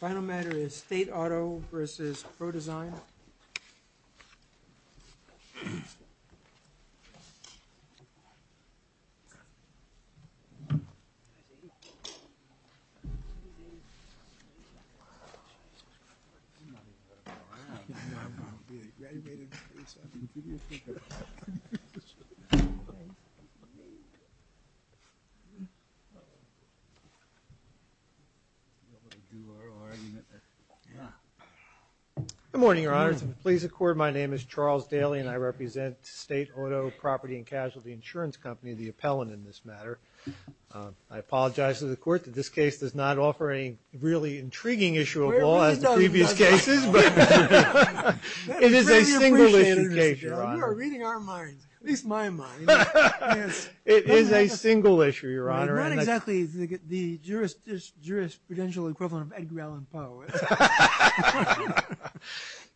Final matter is State Auto vs. PRODesign I apologize to the court that this case does not offer any really intriguing issue of law as the previous cases, but it is a serious issue. It is a single issue, Your Honor. You are reading our minds, at least my mind. It is a single issue, Your Honor. Not exactly the jurisprudential equivalent of Edgar Allan Poe.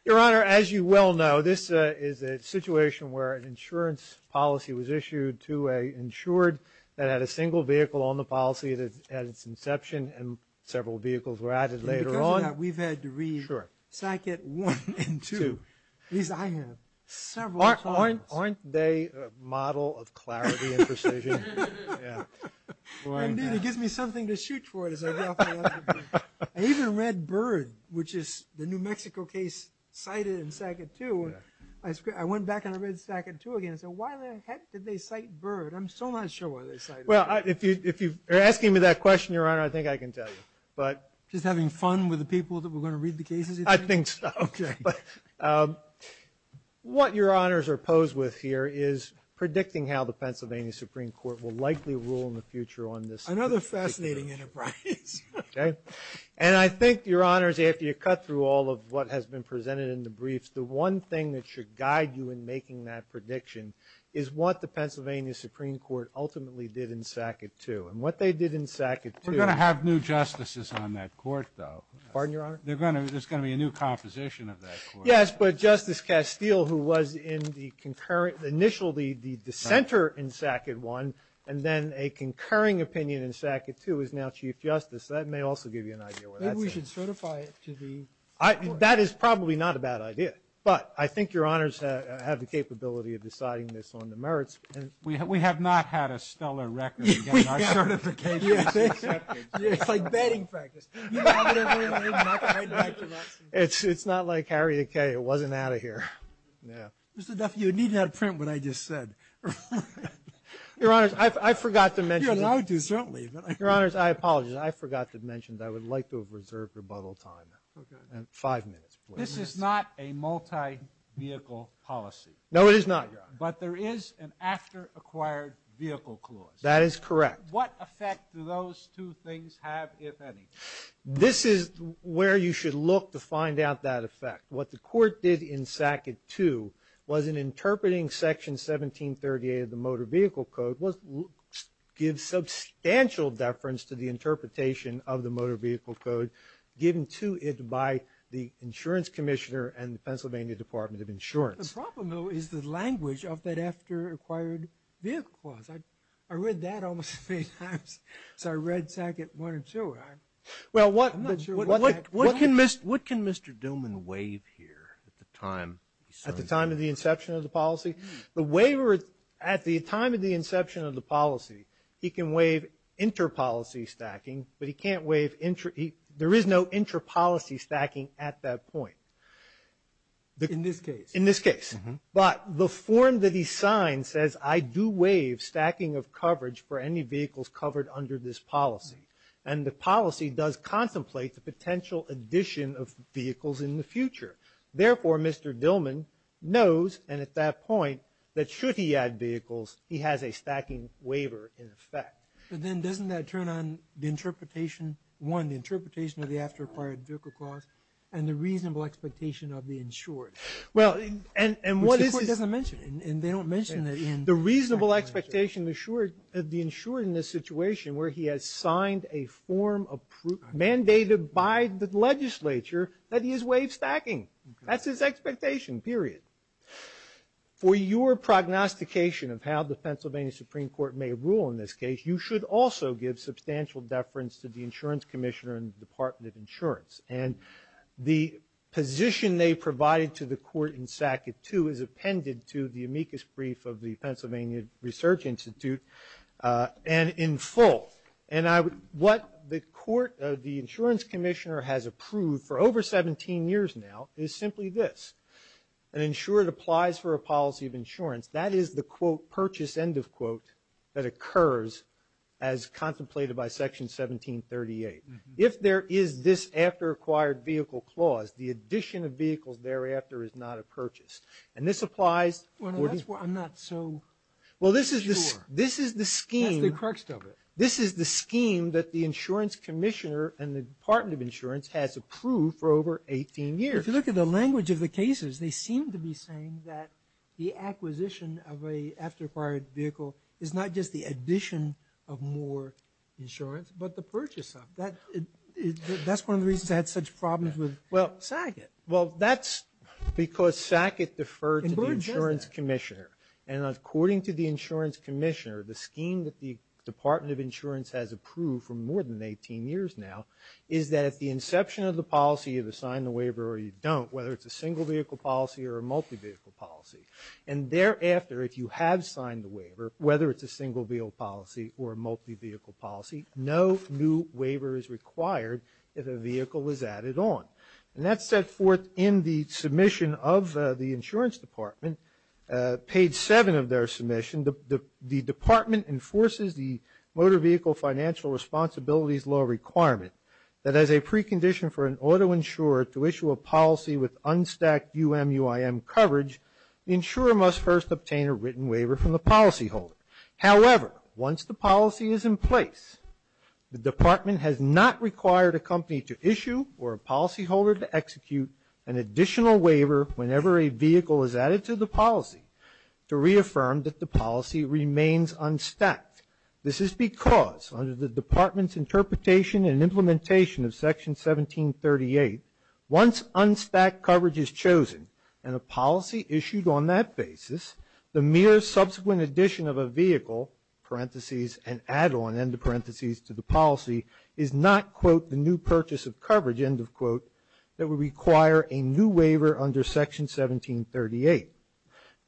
Your Honor, as you well know, this is a situation where an insurance policy was issued to an insured that had a single vehicle on the policy at its inception and several vehicles were added later on. We've had to read Sackett 1 and 2. At least I have. Aren't they a model of clarity and precision? It gives me something to shoot for. I even read Byrd, which is the New Mexico case cited in Sackett 2. I went back and I read Sackett 2 again. I said, why the heck did they cite Byrd? I'm so not sure why they cited Byrd. If you're asking me that question, Your Honor, I think I can tell you. Just having fun with the people that were going to read the cases? I think so. Okay. What Your Honors are posed with here is predicting how the Pennsylvania Supreme Court will likely rule in the future on this. Another fascinating enterprise. And I think, Your Honors, after you cut through all of what has been presented in the briefs, the one thing that should guide you in making that prediction is what the Pennsylvania Supreme Court ultimately did in Sackett 2. And what they did in Sackett 2. We're going to have new justices on that court, though. Pardon, Your Honor? There's going to be a new composition of that court. Yes, but Justice Castile, who was initially the dissenter in Sackett 1, and then a concurring opinion in Sackett 2, is now Chief Justice. That may also give you an idea where that's at. Maybe we should certify it to the court. That is probably not a bad idea. But I think Your Honors have the capability of deciding this on the merits. We have not had a stellar record in getting our certifications accepted. It's like betting practice. It's not like Harriet Kaye. It wasn't out of here. Mr. Duffy, you needed that print when I just said. Your Honors, I forgot to mention. You're allowed to, certainly. Your Honors, I apologize. I forgot to mention that I would like to have reserved rebuttal time. Five minutes, please. This is not a multi-vehicle policy. No, it is not, Your Honor. But there is an after-acquired vehicle clause. That is correct. What effect do those two things have, if any? This is where you should look to find out that effect. What the court did in Sackett 2 was in interpreting Section 1738 of the Motor Vehicle Code, which gives substantial deference to the interpretation of the Motor Vehicle Code, The problem, though, is the language of that after-acquired vehicle clause. I read that almost three times. I read Sackett 1 and 2. Well, what can Mr. Dillman waive here at the time? At the time of the inception of the policy? At the time of the inception of the policy, he can waive inter-policy stacking, but there is no inter-policy stacking at that point. In this case? In this case. But the form that he signs says, I do waive stacking of coverage for any vehicles covered under this policy. And the policy does contemplate the potential addition of vehicles in the future. Therefore, Mr. Dillman knows, and at that point, that should he add vehicles, he has a stacking waiver in effect. But then doesn't that turn on the interpretation, one, the interpretation of the after-acquired vehicle clause, and the reasonable expectation of the insured? Well, and what is this? Which the Court doesn't mention. And they don't mention that in the statute. The reasonable expectation of the insured in this situation where he has signed a form mandated by the legislature that he is waive stacking. That's his expectation, period. For your prognostication of how the Pennsylvania Supreme Court may rule in this case, you should also give substantial deference to the insurance commissioner and the Department of Insurance. And the position they provided to the Court in Sackett, too, is appended to the amicus brief of the Pennsylvania Research Institute, and in full. And what the court, the insurance commissioner, has approved for over 17 years now is simply this. An insured applies for a policy of insurance. That is the, quote, purchase, end of quote, that occurs as contemplated by Section 1738. If there is this after-acquired vehicle clause, the addition of vehicles thereafter is not a purchase. And this applies. Well, that's what I'm not so sure. Well, this is the scheme. That's the crux of it. This is the scheme that the insurance commissioner and the Department of Insurance has approved for over 18 years. If you look at the language of the cases, they seem to be saying that the acquisition of an after-acquired vehicle is not just the addition of more insurance, but the purchase of. That's one of the reasons I had such problems with Sackett. Well, that's because Sackett deferred to the insurance commissioner. And according to the insurance commissioner, the scheme that the Department of Insurance has approved for more than 18 years now is that at the inception of the policy, you either sign the waiver or you don't, whether it's a single-vehicle policy or a multi-vehicle policy. And thereafter, if you have signed the waiver, whether it's a single-vehicle policy or a multi-vehicle policy, no new waiver is required if a vehicle is added on. And that's set forth in the submission of the insurance department. Page 7 of their submission, the department enforces the motor vehicle financial responsibilities law requirement that as a precondition for an auto insurer to issue a policy with unstacked UMUIM coverage, the insurer must first obtain a written waiver from the policyholder. However, once the policy is in place, the department has not required a company to issue or a policyholder to execute an additional waiver whenever a vehicle is added to the policy to reaffirm that the policy remains unstacked. This is because under the department's interpretation and implementation of Section 1738, once unstacked coverage is chosen and a policy issued on that basis, the mere subsequent addition of a vehicle, parentheses, and add-on, end of parentheses, to the policy, is not, quote, the new purchase of coverage, end of quote, that would require a new waiver under Section 1738.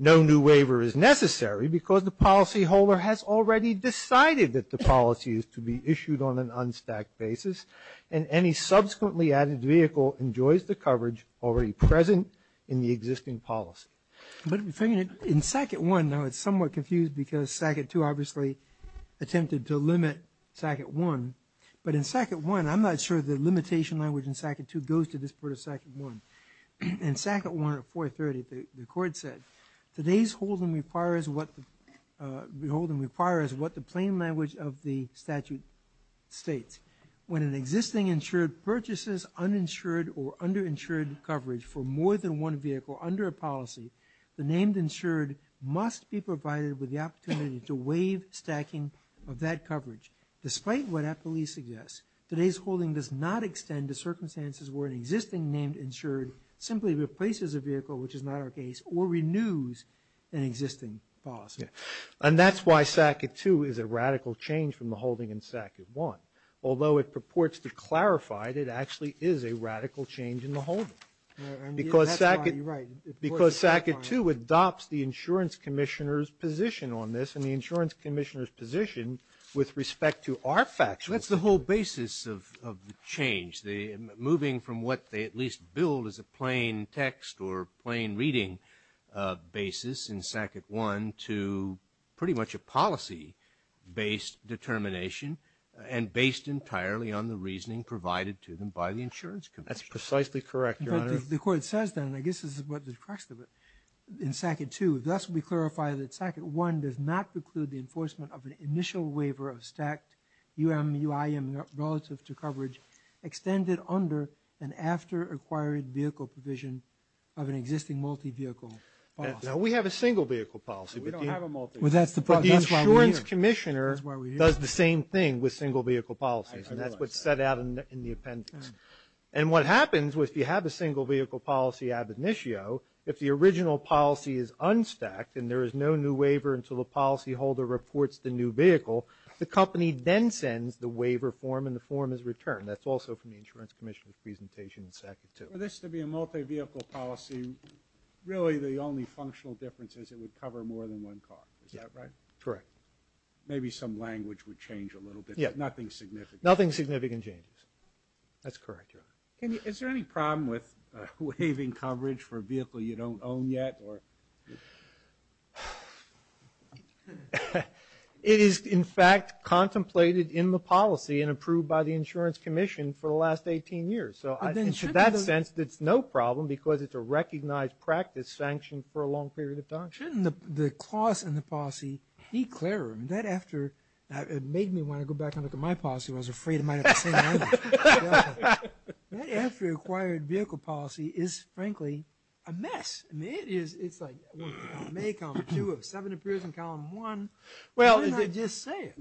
No new waiver is necessary because the policyholder has already decided that the policy is to be issued on an unstacked basis, and any subsequently added vehicle enjoys the coverage already present in the existing policy. But in SACIT 1, now it's somewhat confused because SACIT 2 obviously attempted to limit SACIT 1, but in SACIT 1, I'm not sure the limitation language in SACIT 2 goes to this part of SACIT 1. In SACIT 1 at 430, the court said, today's holding requires what the plain language of the statute states. When an existing insured purchases uninsured or underinsured coverage for more than one vehicle under a policy, the named insured must be provided with the opportunity to waive stacking of that coverage. Despite what APPLI suggests, today's holding does not extend to circumstances where an existing named insured simply replaces a vehicle, which is not our case or renews an existing policy. And that's why SACIT 2 is a radical change from the holding in SACIT 1. Although it purports to clarify that it actually is a radical change in the holding. Because SACIT 2 adopts the insurance commissioner's position on this, and the insurance commissioner's position with respect to our factual. That's the whole basis of the change. Moving from what they at least billed as a plain text or plain reading basis in SACIT 1 to pretty much a policy-based determination and based entirely on the reasoning provided to them by the insurance commissioner. That's precisely correct, Your Honor. The court says then, I guess this is what the crux of it, in SACIT 2, thus we clarify that SACIT 1 does not preclude the enforcement of an initial waiver of stacked UMUIM relative to coverage extended under and after acquired vehicle provision of an existing multi-vehicle policy. We have a single-vehicle policy. We don't have a multi-vehicle policy. But the insurance commissioner does the same thing with single-vehicle policies. And that's what's set out in the appendix. And what happens if you have a single-vehicle policy ab initio, if the original policy is unstacked and there is no new waiver until the new vehicle, the company then sends the waiver form and the form is returned. That's also from the insurance commissioner's presentation in SACIT 2. For this to be a multi-vehicle policy, really the only functional difference is it would cover more than one car. Is that right? Correct. Maybe some language would change a little bit, but nothing significant. Nothing significant changes. That's correct, Your Honor. Is there any problem with waiving coverage for a vehicle you don't own yet? It is, in fact, contemplated in the policy and approved by the insurance commission for the last 18 years. In that sense, it's no problem because it's a recognized practice sanctioned for a long period of time. Shouldn't the clause in the policy be clearer? It made me want to go back and look at my policy. I was afraid it might have the same language. That after-acquired vehicle policy is, frankly, a mess. I mean, it is. It's like 1 of column A, column 2 of 7 appears in column 1. Shouldn't I just say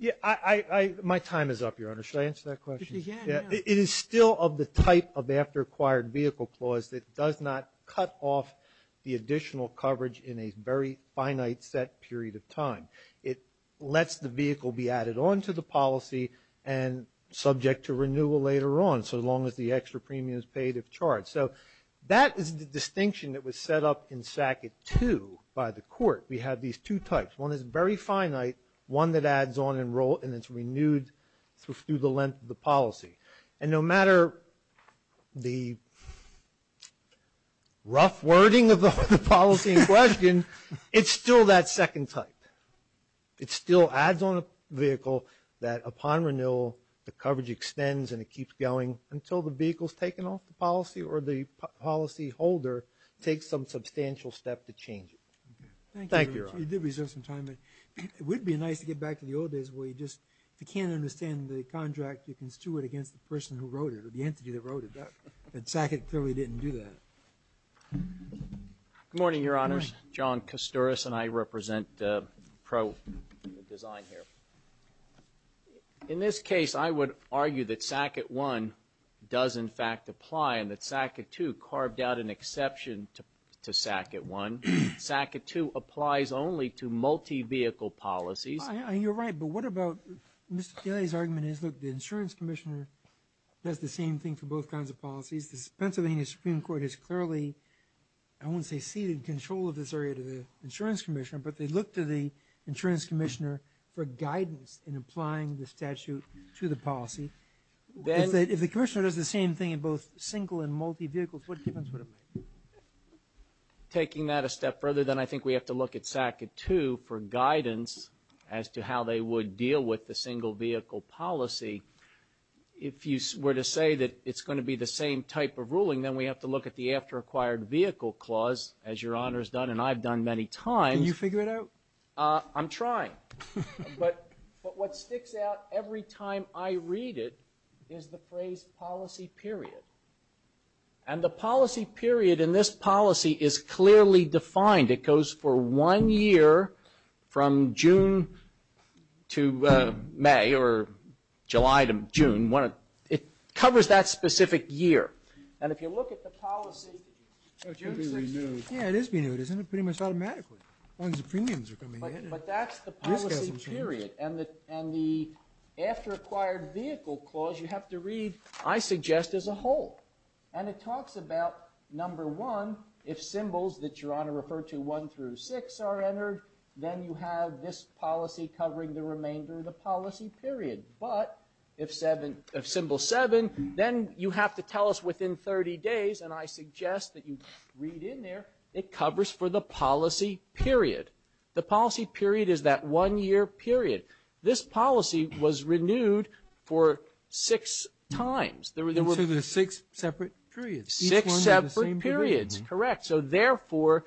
it? My time is up, Your Honor. Should I answer that question? Yeah. It is still of the type of after-acquired vehicle clause that does not cut off the additional coverage in a very finite set period of time. It lets the vehicle be added on to the policy and subject to renewal later on, so long as the extra premium is paid if charged. So that is the distinction that was set up in SACIT 2 by the court. We have these two types. One is very finite, one that adds on and it's renewed through the length of the policy. And no matter the rough wording of the policy in question, it's still that second type. It still adds on a vehicle that upon renewal the coverage extends and it takes some substantial step to change it. Thank you, Your Honor. You did reserve some time. It would be nice to get back to the old days where you just, if you can't understand the contract, you can stew it against the person who wrote it or the entity that wrote it. And SACIT clearly didn't do that. Good morning, Your Honors. Good morning. John Kasturis and I represent PRO Design here. In this case, I would argue that SACIT 1 does in fact apply and that SACIT 2 carved out an exception to SACIT 1. SACIT 2 applies only to multi-vehicle policies. You're right. But what about Mr. Delia's argument is, look, the insurance commissioner does the same thing for both kinds of policies. The Pennsylvania Supreme Court has clearly, I won't say ceded control of this area to the insurance commissioner, but they look to the insurance commissioner for guidance in applying the statute to the policy. If the commissioner does the same thing in both single and multi-vehicles, what difference would it make? Taking that a step further, then I think we have to look at SACIT 2 for guidance as to how they would deal with the single-vehicle policy. If you were to say that it's going to be the same type of ruling, then we have to look at the after-acquired vehicle clause, as Your Honors done and I've done many times. Can you figure it out? I'm trying. But what sticks out every time I read it is the phrase policy period. And the policy period in this policy is clearly defined. It goes for one year from June to May or July to June. It covers that specific year. And if you look at the policy. It is being renewed. Isn't it pretty much automatically? But that's the policy period. And the after-acquired vehicle clause you have to read, I suggest, as a whole. And it talks about, number one, if symbols that Your Honor referred to one through six are entered, then you have this policy covering the remainder of the policy period. But if symbol seven, then you have to tell us within 30 days, and I suggest that you read in there. It covers for the policy period. The policy period is that one-year period. This policy was renewed for six times. So there were six separate periods. Six separate periods, correct. So, therefore,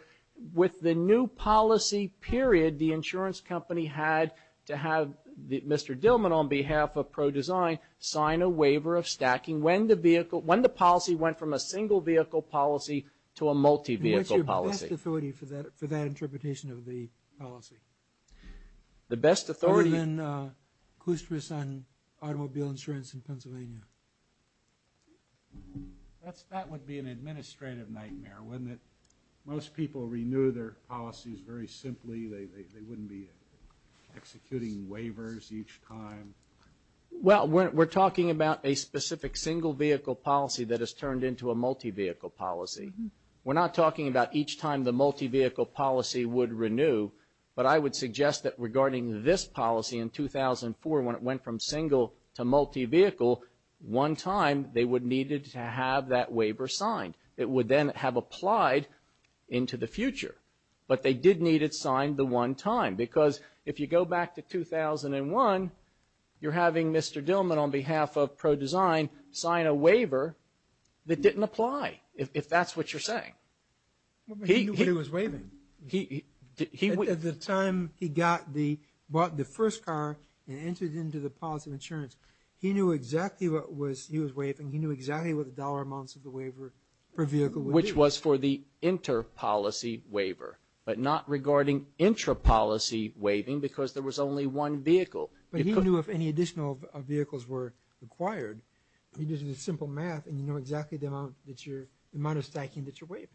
with the new policy period, the insurance company had to have Mr. Dillman, on behalf of ProDesign, sign a waiver of stacking when the policy went from a single-vehicle policy to a multi-vehicle policy. What's your best authority for that interpretation of the policy? The best authority... Other than Clusterus on automobile insurance in Pennsylvania. That would be an administrative nightmare, wouldn't it? Most people renew their policies very simply. They wouldn't be executing waivers each time. Well, we're talking about a specific single-vehicle policy that has turned into a multi-vehicle policy. We're not talking about each time the multi-vehicle policy would renew, but I would suggest that regarding this policy in 2004, when it went from single to multi-vehicle, one time they would need to have that waiver signed. It would then have applied into the future, but they did need it signed the one time. Because if you go back to 2001, you're having Mr. Dillman, on behalf of ProDesign, sign a waiver that didn't apply, if that's what you're saying. He knew what he was waiving. At the time he bought the first car and entered into the policy of insurance, he knew exactly what he was waiving. He knew exactly what the dollar amounts of the waiver per vehicle would be. Which was for the inter-policy waiver, but not regarding intra-policy waiving because there was only one vehicle. But he knew if any additional vehicles were required. You do the simple math and you know exactly the amount of stacking that you're waiving.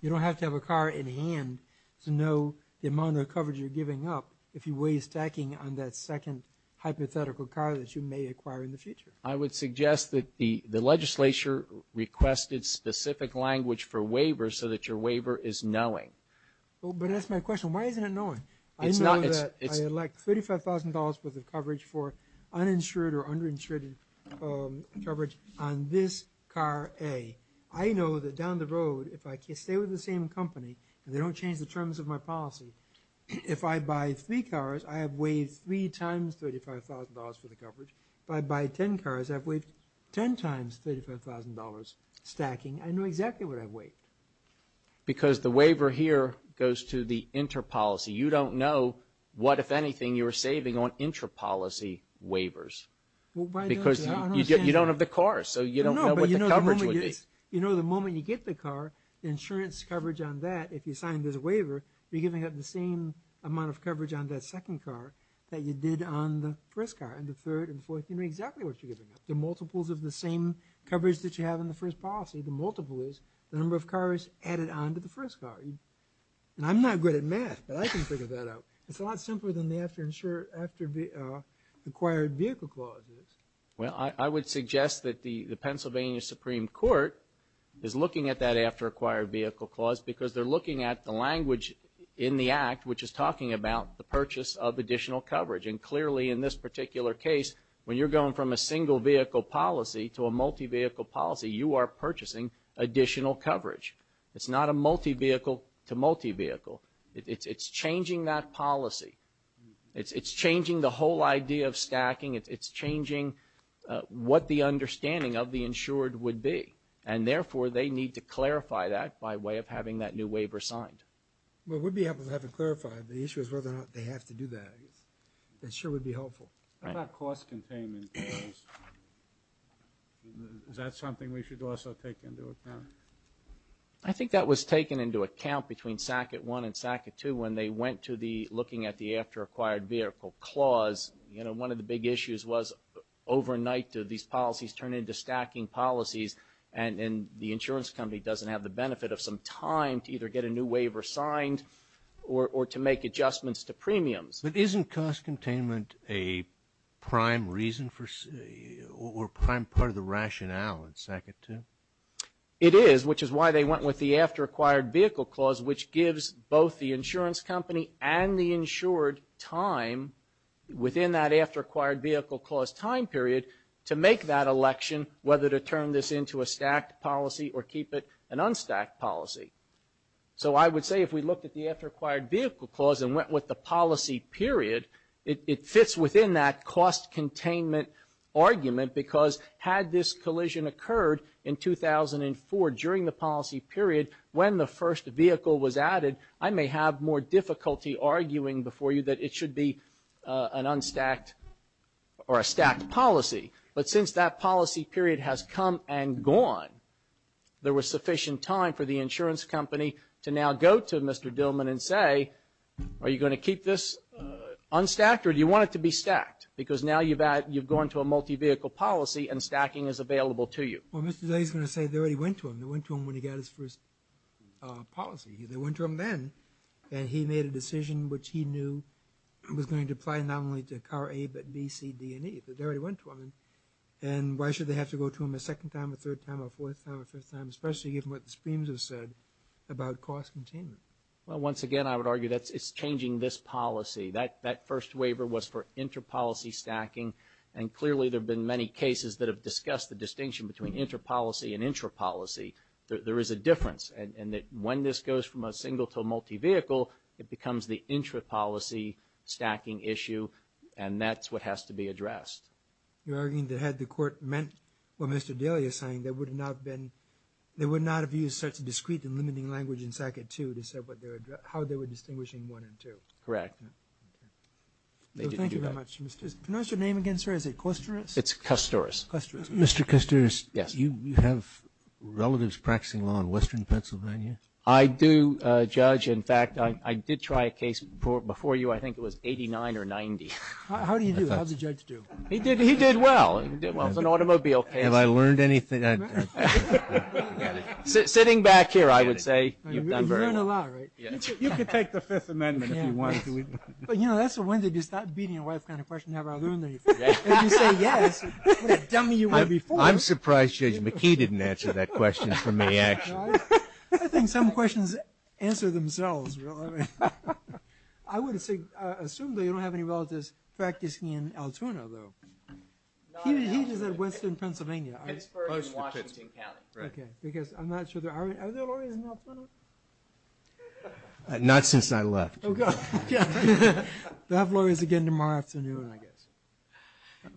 You don't have to have a car in hand to know the amount of coverage you're giving up if you waive stacking on that second hypothetical car that you may acquire in the future. I would suggest that the legislature requested specific language for waivers so that your waiver is knowing. But that's my question. Why isn't it knowing? I know that I elect $35,000 worth of coverage for uninsured or underinsured coverage on this car A. I know that down the road, if I stay with the same company, and they don't change the terms of my policy, if I buy three cars, I have waived three times $35,000 for the coverage. If I buy ten cars, I've waived ten times $35,000 stacking. I know exactly what I've waived. Because the waiver here goes to the interpolicy. You don't know what, if anything, you're saving on interpolicy waivers. Because you don't have the car, so you don't know what the coverage would be. No, but you know the moment you get the car, the insurance coverage on that, if you sign this waiver, you're giving up the same amount of coverage on that second car that you did on the first car and the third and fourth. You know exactly what you're giving up. The multiples of the same coverage that you have in the first policy. The multiple is the number of cars added on to the first car. And I'm not good at math, but I can figure that out. It's a lot simpler than the after acquired vehicle clause is. Well, I would suggest that the Pennsylvania Supreme Court is looking at that after acquired vehicle clause because they're looking at the language in the Act which is talking about the purchase of additional coverage. And clearly, in this particular case, when you're going from a single vehicle policy to a multi-vehicle policy, you are purchasing additional coverage. It's not a multi-vehicle to multi-vehicle. It's changing that policy. It's changing the whole idea of stacking. It's changing what the understanding of the insured would be. And therefore, they need to clarify that by way of having that new waiver signed. Well, we'd be happy to have it clarified. The issue is whether or not they have to do that. It sure would be helpful. How about cost containment? Is that something we should also take into account? I think that was taken into account between SACA 1 and SACA 2 when they went to looking at the after acquired vehicle clause. You know, one of the big issues was overnight, do these policies turn into stacking policies? And the insurance company doesn't have the benefit of some time to either get a new waiver signed or to make adjustments to premiums. But isn't cost containment a prime reason or prime part of the rationale in SACA 2? It is, which is why they went with the after acquired vehicle clause, which gives both the insurance company and the insured time within that after acquired vehicle clause time period to make that election, whether to turn this into a stacked policy or keep it an unstacked policy. So I would say if we looked at the after acquired vehicle clause and went with the policy period, it fits within that cost containment argument because had this collision occurred in 2004 during the policy period when the first vehicle was added, I may have more difficulty arguing before you that it should be an unstacked or a stacked policy. But since that policy period has come and gone, there was sufficient time for the insurance company to now go to Mr. Dillman and say, are you going to keep this unstacked or do you want it to be stacked? Because now you've gone to a multi-vehicle policy and stacking is available to you. Well, Mr. Dillman is going to say they already went to him. They went to him when he got his first policy. They went to him then and he made a decision which he knew was going to apply not only to car A, but B, C, D, and E. But they already went to him. And why should they have to go to him a second time, a third time, a fourth time, a fifth time, especially given what the screams have said about cost containment? Well, once again, I would argue that it's changing this policy. That first waiver was for inter-policy stacking, and clearly there have been many cases that have discussed the distinction between inter-policy and intra-policy. There is a difference. And when this goes from a single to a multi-vehicle, it becomes the intra-policy stacking issue, and that's what has to be addressed. You're arguing that had the Court meant what Mr. Dillman is saying, they would not have used such a discrete and limiting language in SACA 2 to say how they were distinguishing 1 and 2. Correct. Thank you very much. Can I ask your name again, sir? Is it Kusturis? It's Kusturis. Mr. Kusturis. Yes. Do you have relatives practicing law in western Pennsylvania? I do, Judge. In fact, I did try a case before you. I think it was 89 or 90. How do you do? How does a judge do? He did well. He did well as an automobile case. Have I learned anything? Sitting back here, I would say you've done very well. You've learned a lot, right? You could take the Fifth Amendment if you wanted to. But, you know, that's the one that you start beating your wife kind of question, have I learned anything? If you say yes, what a dummy you were before. I'm surprised Judge McKee didn't answer that question for me, actually. I think some questions answer themselves. I would assume that you don't have any relatives practicing in Altoona, though. He just said western Pennsylvania. Pittsburgh and Washington County. Because I'm not sure. Are there lawyers in Altoona? Not since I left. They'll have lawyers again tomorrow afternoon, I guess.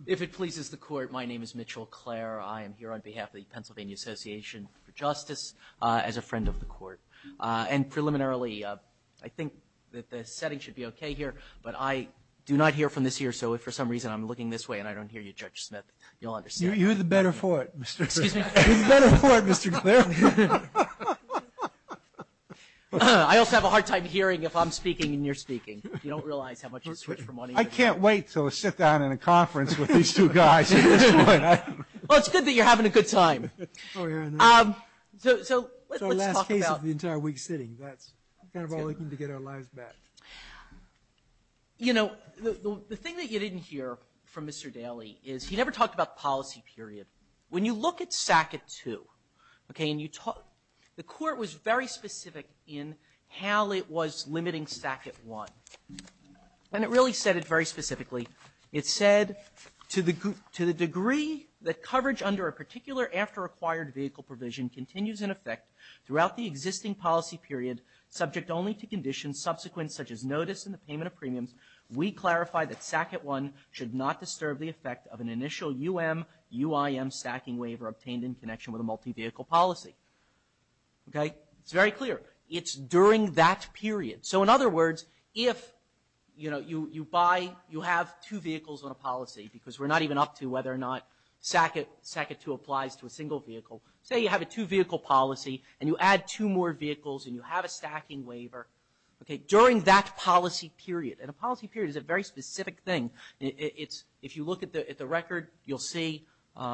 If it pleases the Court, my name is Mitchell Clare. I am here on behalf of the Pennsylvania Association for Justice as a friend of the Court. And preliminarily, I think that the setting should be okay here, but I do not hear from this ear, so if for some reason I'm looking this way and I don't hear you, Judge Smith, you'll understand. You're the better for it, Mr. Clare. Excuse me? You're the better for it, Mr. Clare. I also have a hard time hearing if I'm speaking and you're speaking. You don't realize how much you switch from one ear to the other. I can't wait to sit down in a conference with these two guys. Well, it's good that you're having a good time. So let's talk about. It's our last case of the entire week sitting. That's kind of all we need to get our lives back. You know, the thing that you didn't hear from Mr. Daley is he never talked about policy period. When you look at SACT II, okay, and you talk the Court was very specific in how it was limiting SACT I, and it really said it very specifically. It said, to the degree that coverage under a particular after-acquired vehicle provision continues in effect throughout the existing policy period subject only to conditions subsequent such as notice and the payment of premiums, we clarify that SACT I should not disturb the effect of an initial U.M., U.I.M. stacking waiver obtained in connection with a multi-vehicle policy. Okay? It's very clear. It's during that period. So in other words, if, you know, you buy, you have two vehicles on a policy because we're not even up to whether or not SACT II applies to a single vehicle. Say you have a two-vehicle policy and you add two more vehicles and you have a stacking waiver, okay, during that policy period. And a policy period is a very specific thing. It's, if you look at the record, you'll see, you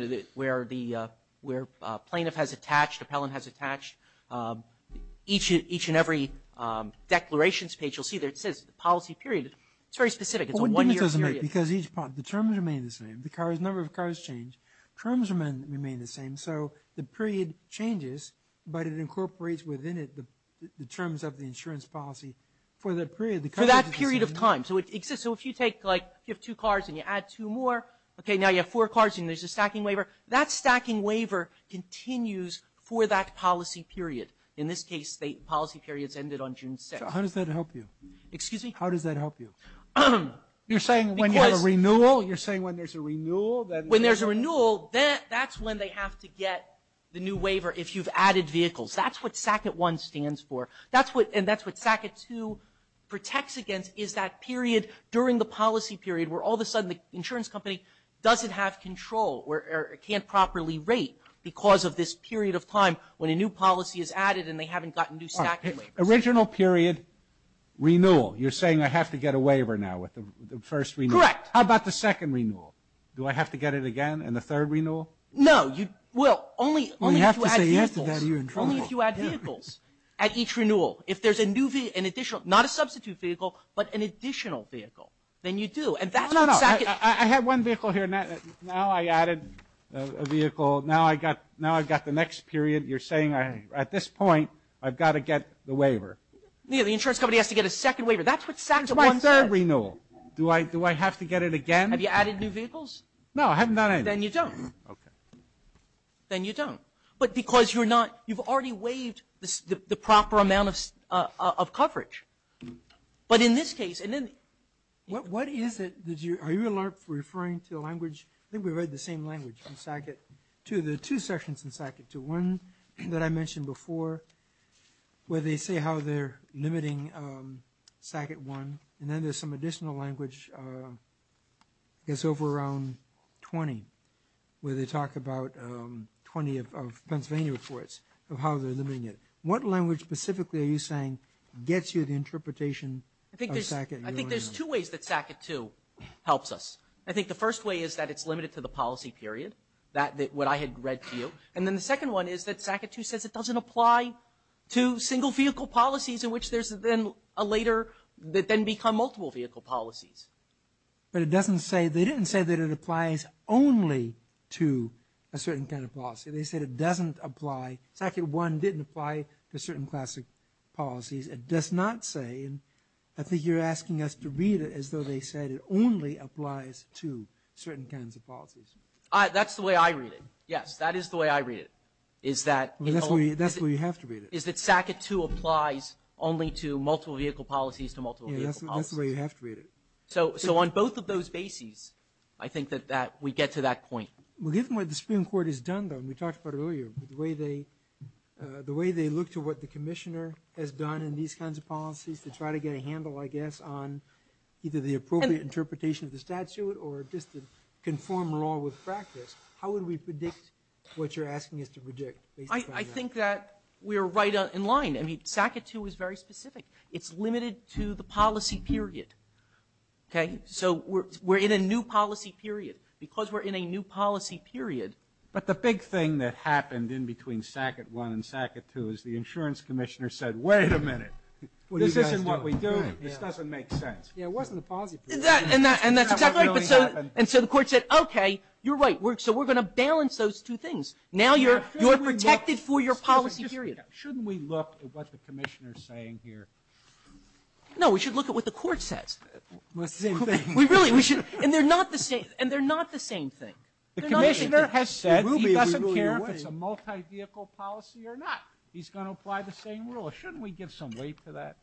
know, where the, where plaintiff has attached, appellant has attached, each and every declarations page, you'll see there it says policy period. It's very specific. It's a one-year period. Because each, the terms remain the same. The cars, number of cars change. Terms remain the same. So the period changes, but it incorporates within it the terms of the insurance policy for that period. For that period of time. So it exists. So if you take, like, if you have two cars and you add two more, okay, now you have four cars and there's a stacking waiver, that stacking waiver continues for that policy period. In this case, the policy periods ended on June 6th. So how does that help you? Excuse me? How does that help you? You're saying when you have a renewal? You're saying when there's a renewal? When there's a renewal, that's when they have to get the new waiver, if you've added vehicles. That's what SACIT 1 stands for. And that's what SACIT 2 protects against, is that period during the policy period where all of a sudden the insurance company doesn't have control or can't properly rate because of this period of time when a new policy is added and they haven't gotten new stacking waivers. Original period, renewal. You're saying I have to get a waiver now with the first renewal. Correct. How about the second renewal? Do I have to get it again in the third renewal? No. Well, only if you add vehicles. Only if you add vehicles at each renewal. If there's a new vehicle, an additional, not a substitute vehicle, but an additional vehicle, then you do. And that's what SACIT. No, no. I have one vehicle here. Now I added a vehicle. Now I've got the next period. You're saying at this point I've got to get the waiver. The insurance company has to get a second waiver. That's what SACIT 1 says. One third renewal. Do I have to get it again? Have you added new vehicles? No, I haven't got any. Then you don't. Okay. Then you don't. But because you're not, you've already waived the proper amount of coverage. But in this case, and then. What is it? Are you referring to a language? I think we read the same language in SACIT 2. There are two sections in SACIT 2. One that I mentioned before where they say how they're limiting SACIT 1. And then there's some additional language, I guess over around 20, where they talk about 20 of Pennsylvania reports of how they're limiting it. What language specifically are you saying gets you the interpretation of SACIT 1? I think there's two ways that SACIT 2 helps us. I think the first way is that it's limited to the policy period, what I had read to you. And then the second one is that SACIT 2 says it doesn't apply to single vehicle policies in which there's then a later that then become multiple vehicle policies. But it doesn't say. They didn't say that it applies only to a certain kind of policy. They said it doesn't apply. SACIT 1 didn't apply to certain classic policies. It does not say. I think you're asking us to read it as though they said it only applies to certain kinds of policies. That's the way I read it. Yes, that is the way I read it, is that. That's the way you have to read it. Is that SACIT 2 applies only to multiple vehicle policies to multiple vehicle policies. Yes, that's the way you have to read it. So on both of those bases, I think that we get to that point. Well, given what the Supreme Court has done, though, and we talked about it earlier, the way they look to what the commissioner has done in these kinds of policies to try to get a handle, I guess, on either the appropriate interpretation of the statute or just to conform law with practice, how would we predict what you're asking us to predict? I think that we are right in line. I mean, SACIT 2 is very specific. It's limited to the policy period. Okay? So we're in a new policy period. Because we're in a new policy period. But the big thing that happened in between SACIT 1 and SACIT 2 is the insurance commissioner said, Wait a minute. This isn't what we do. This doesn't make sense. Yeah, it wasn't a policy period. And that's exactly right. And so the court said, Okay, you're right. So we're going to balance those two things. Now you're protected for your policy period. Shouldn't we look at what the commissioner is saying here? No. We should look at what the court says. We really should. And they're not the same. And they're not the same thing. The commissioner has said he doesn't care if it's a multi-vehicle policy or not. He's going to apply the same rule. Shouldn't we give some weight to that?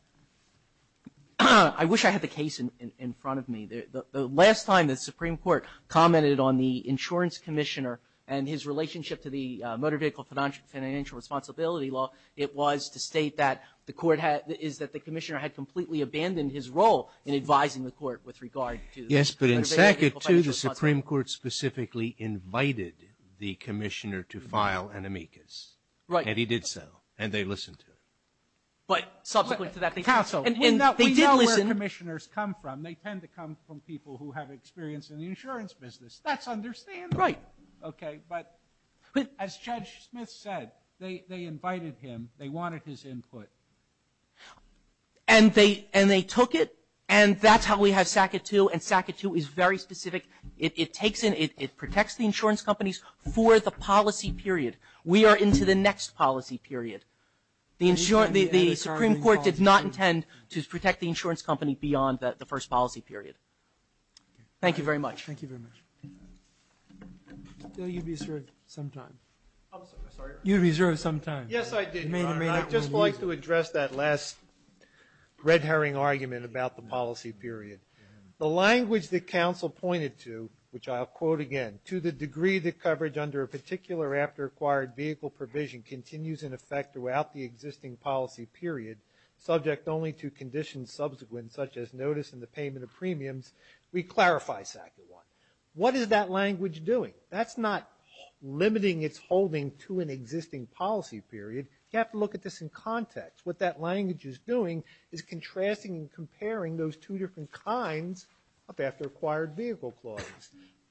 I wish I had the case in front of me. The last time the Supreme Court commented on the insurance commissioner and his relationship to the motor vehicle financial responsibility law, it was to state that the court had the commissioner had completely abandoned his role in advising the court with regard to the motor vehicle financial responsibility. Yes, but in SACIT 2, the Supreme Court specifically invited the commissioner to file an amicus. Right. And he did so. And they listened to it. But subsequent to that, they didn't. Counsel, we know where commissioners come from. They tend to come from people who have experience in the insurance business. That's understandable. Right. Okay. But as Judge Smith said, they invited him. They wanted his input. And they took it. And that's how we have SACIT 2. And SACIT 2 is very specific. It protects the insurance companies for the policy period. We are into the next policy period. The Supreme Court did not intend to protect the insurance company beyond the first policy period. Thank you very much. Thank you very much. I thought you reserved some time. I'm sorry. You reserved some time. Yes, I did, Your Honor. I'd just like to address that last red herring argument about the policy period. The language that counsel pointed to, which I'll quote again, to the degree that coverage under a particular after-acquired vehicle provision continues in effect throughout the existing policy period, subject only to conditions subsequent, such as notice and the payment of premiums, we clarify SACIT 1. What is that language doing? That's not limiting its holding to an existing policy period. You have to look at this in context. What that language is doing is contrasting and comparing those two different kinds of after-acquired vehicle clause.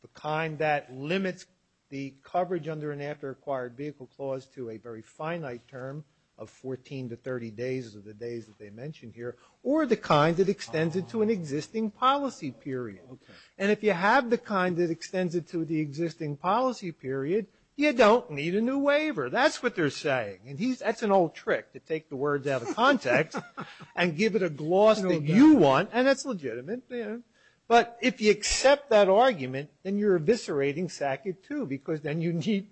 The kind that limits the coverage under an after-acquired vehicle clause to a very finite term of 14 to 30 days of the days that they mention here, or the kind that extends it to an existing policy period. And if you have the kind that extends it to the existing policy period, you don't need a new waiver. That's what they're saying. And that's an old trick to take the words out of context and give it a gloss that you want, and that's legitimate. But if you accept that argument, then you're eviscerating SACIT 2, because then you need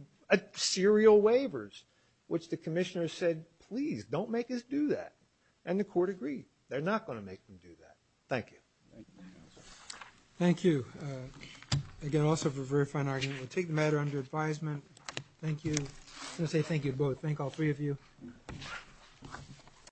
serial waivers, which the commissioner said, please don't make us do that. And the court agreed. They're not going to make them do that. Thank you. Thank you, counsel. Thank you. Again, also for a very fine argument. We'll take the matter under advisement. Thank you. I'm going to say thank you both. Thank all three of you.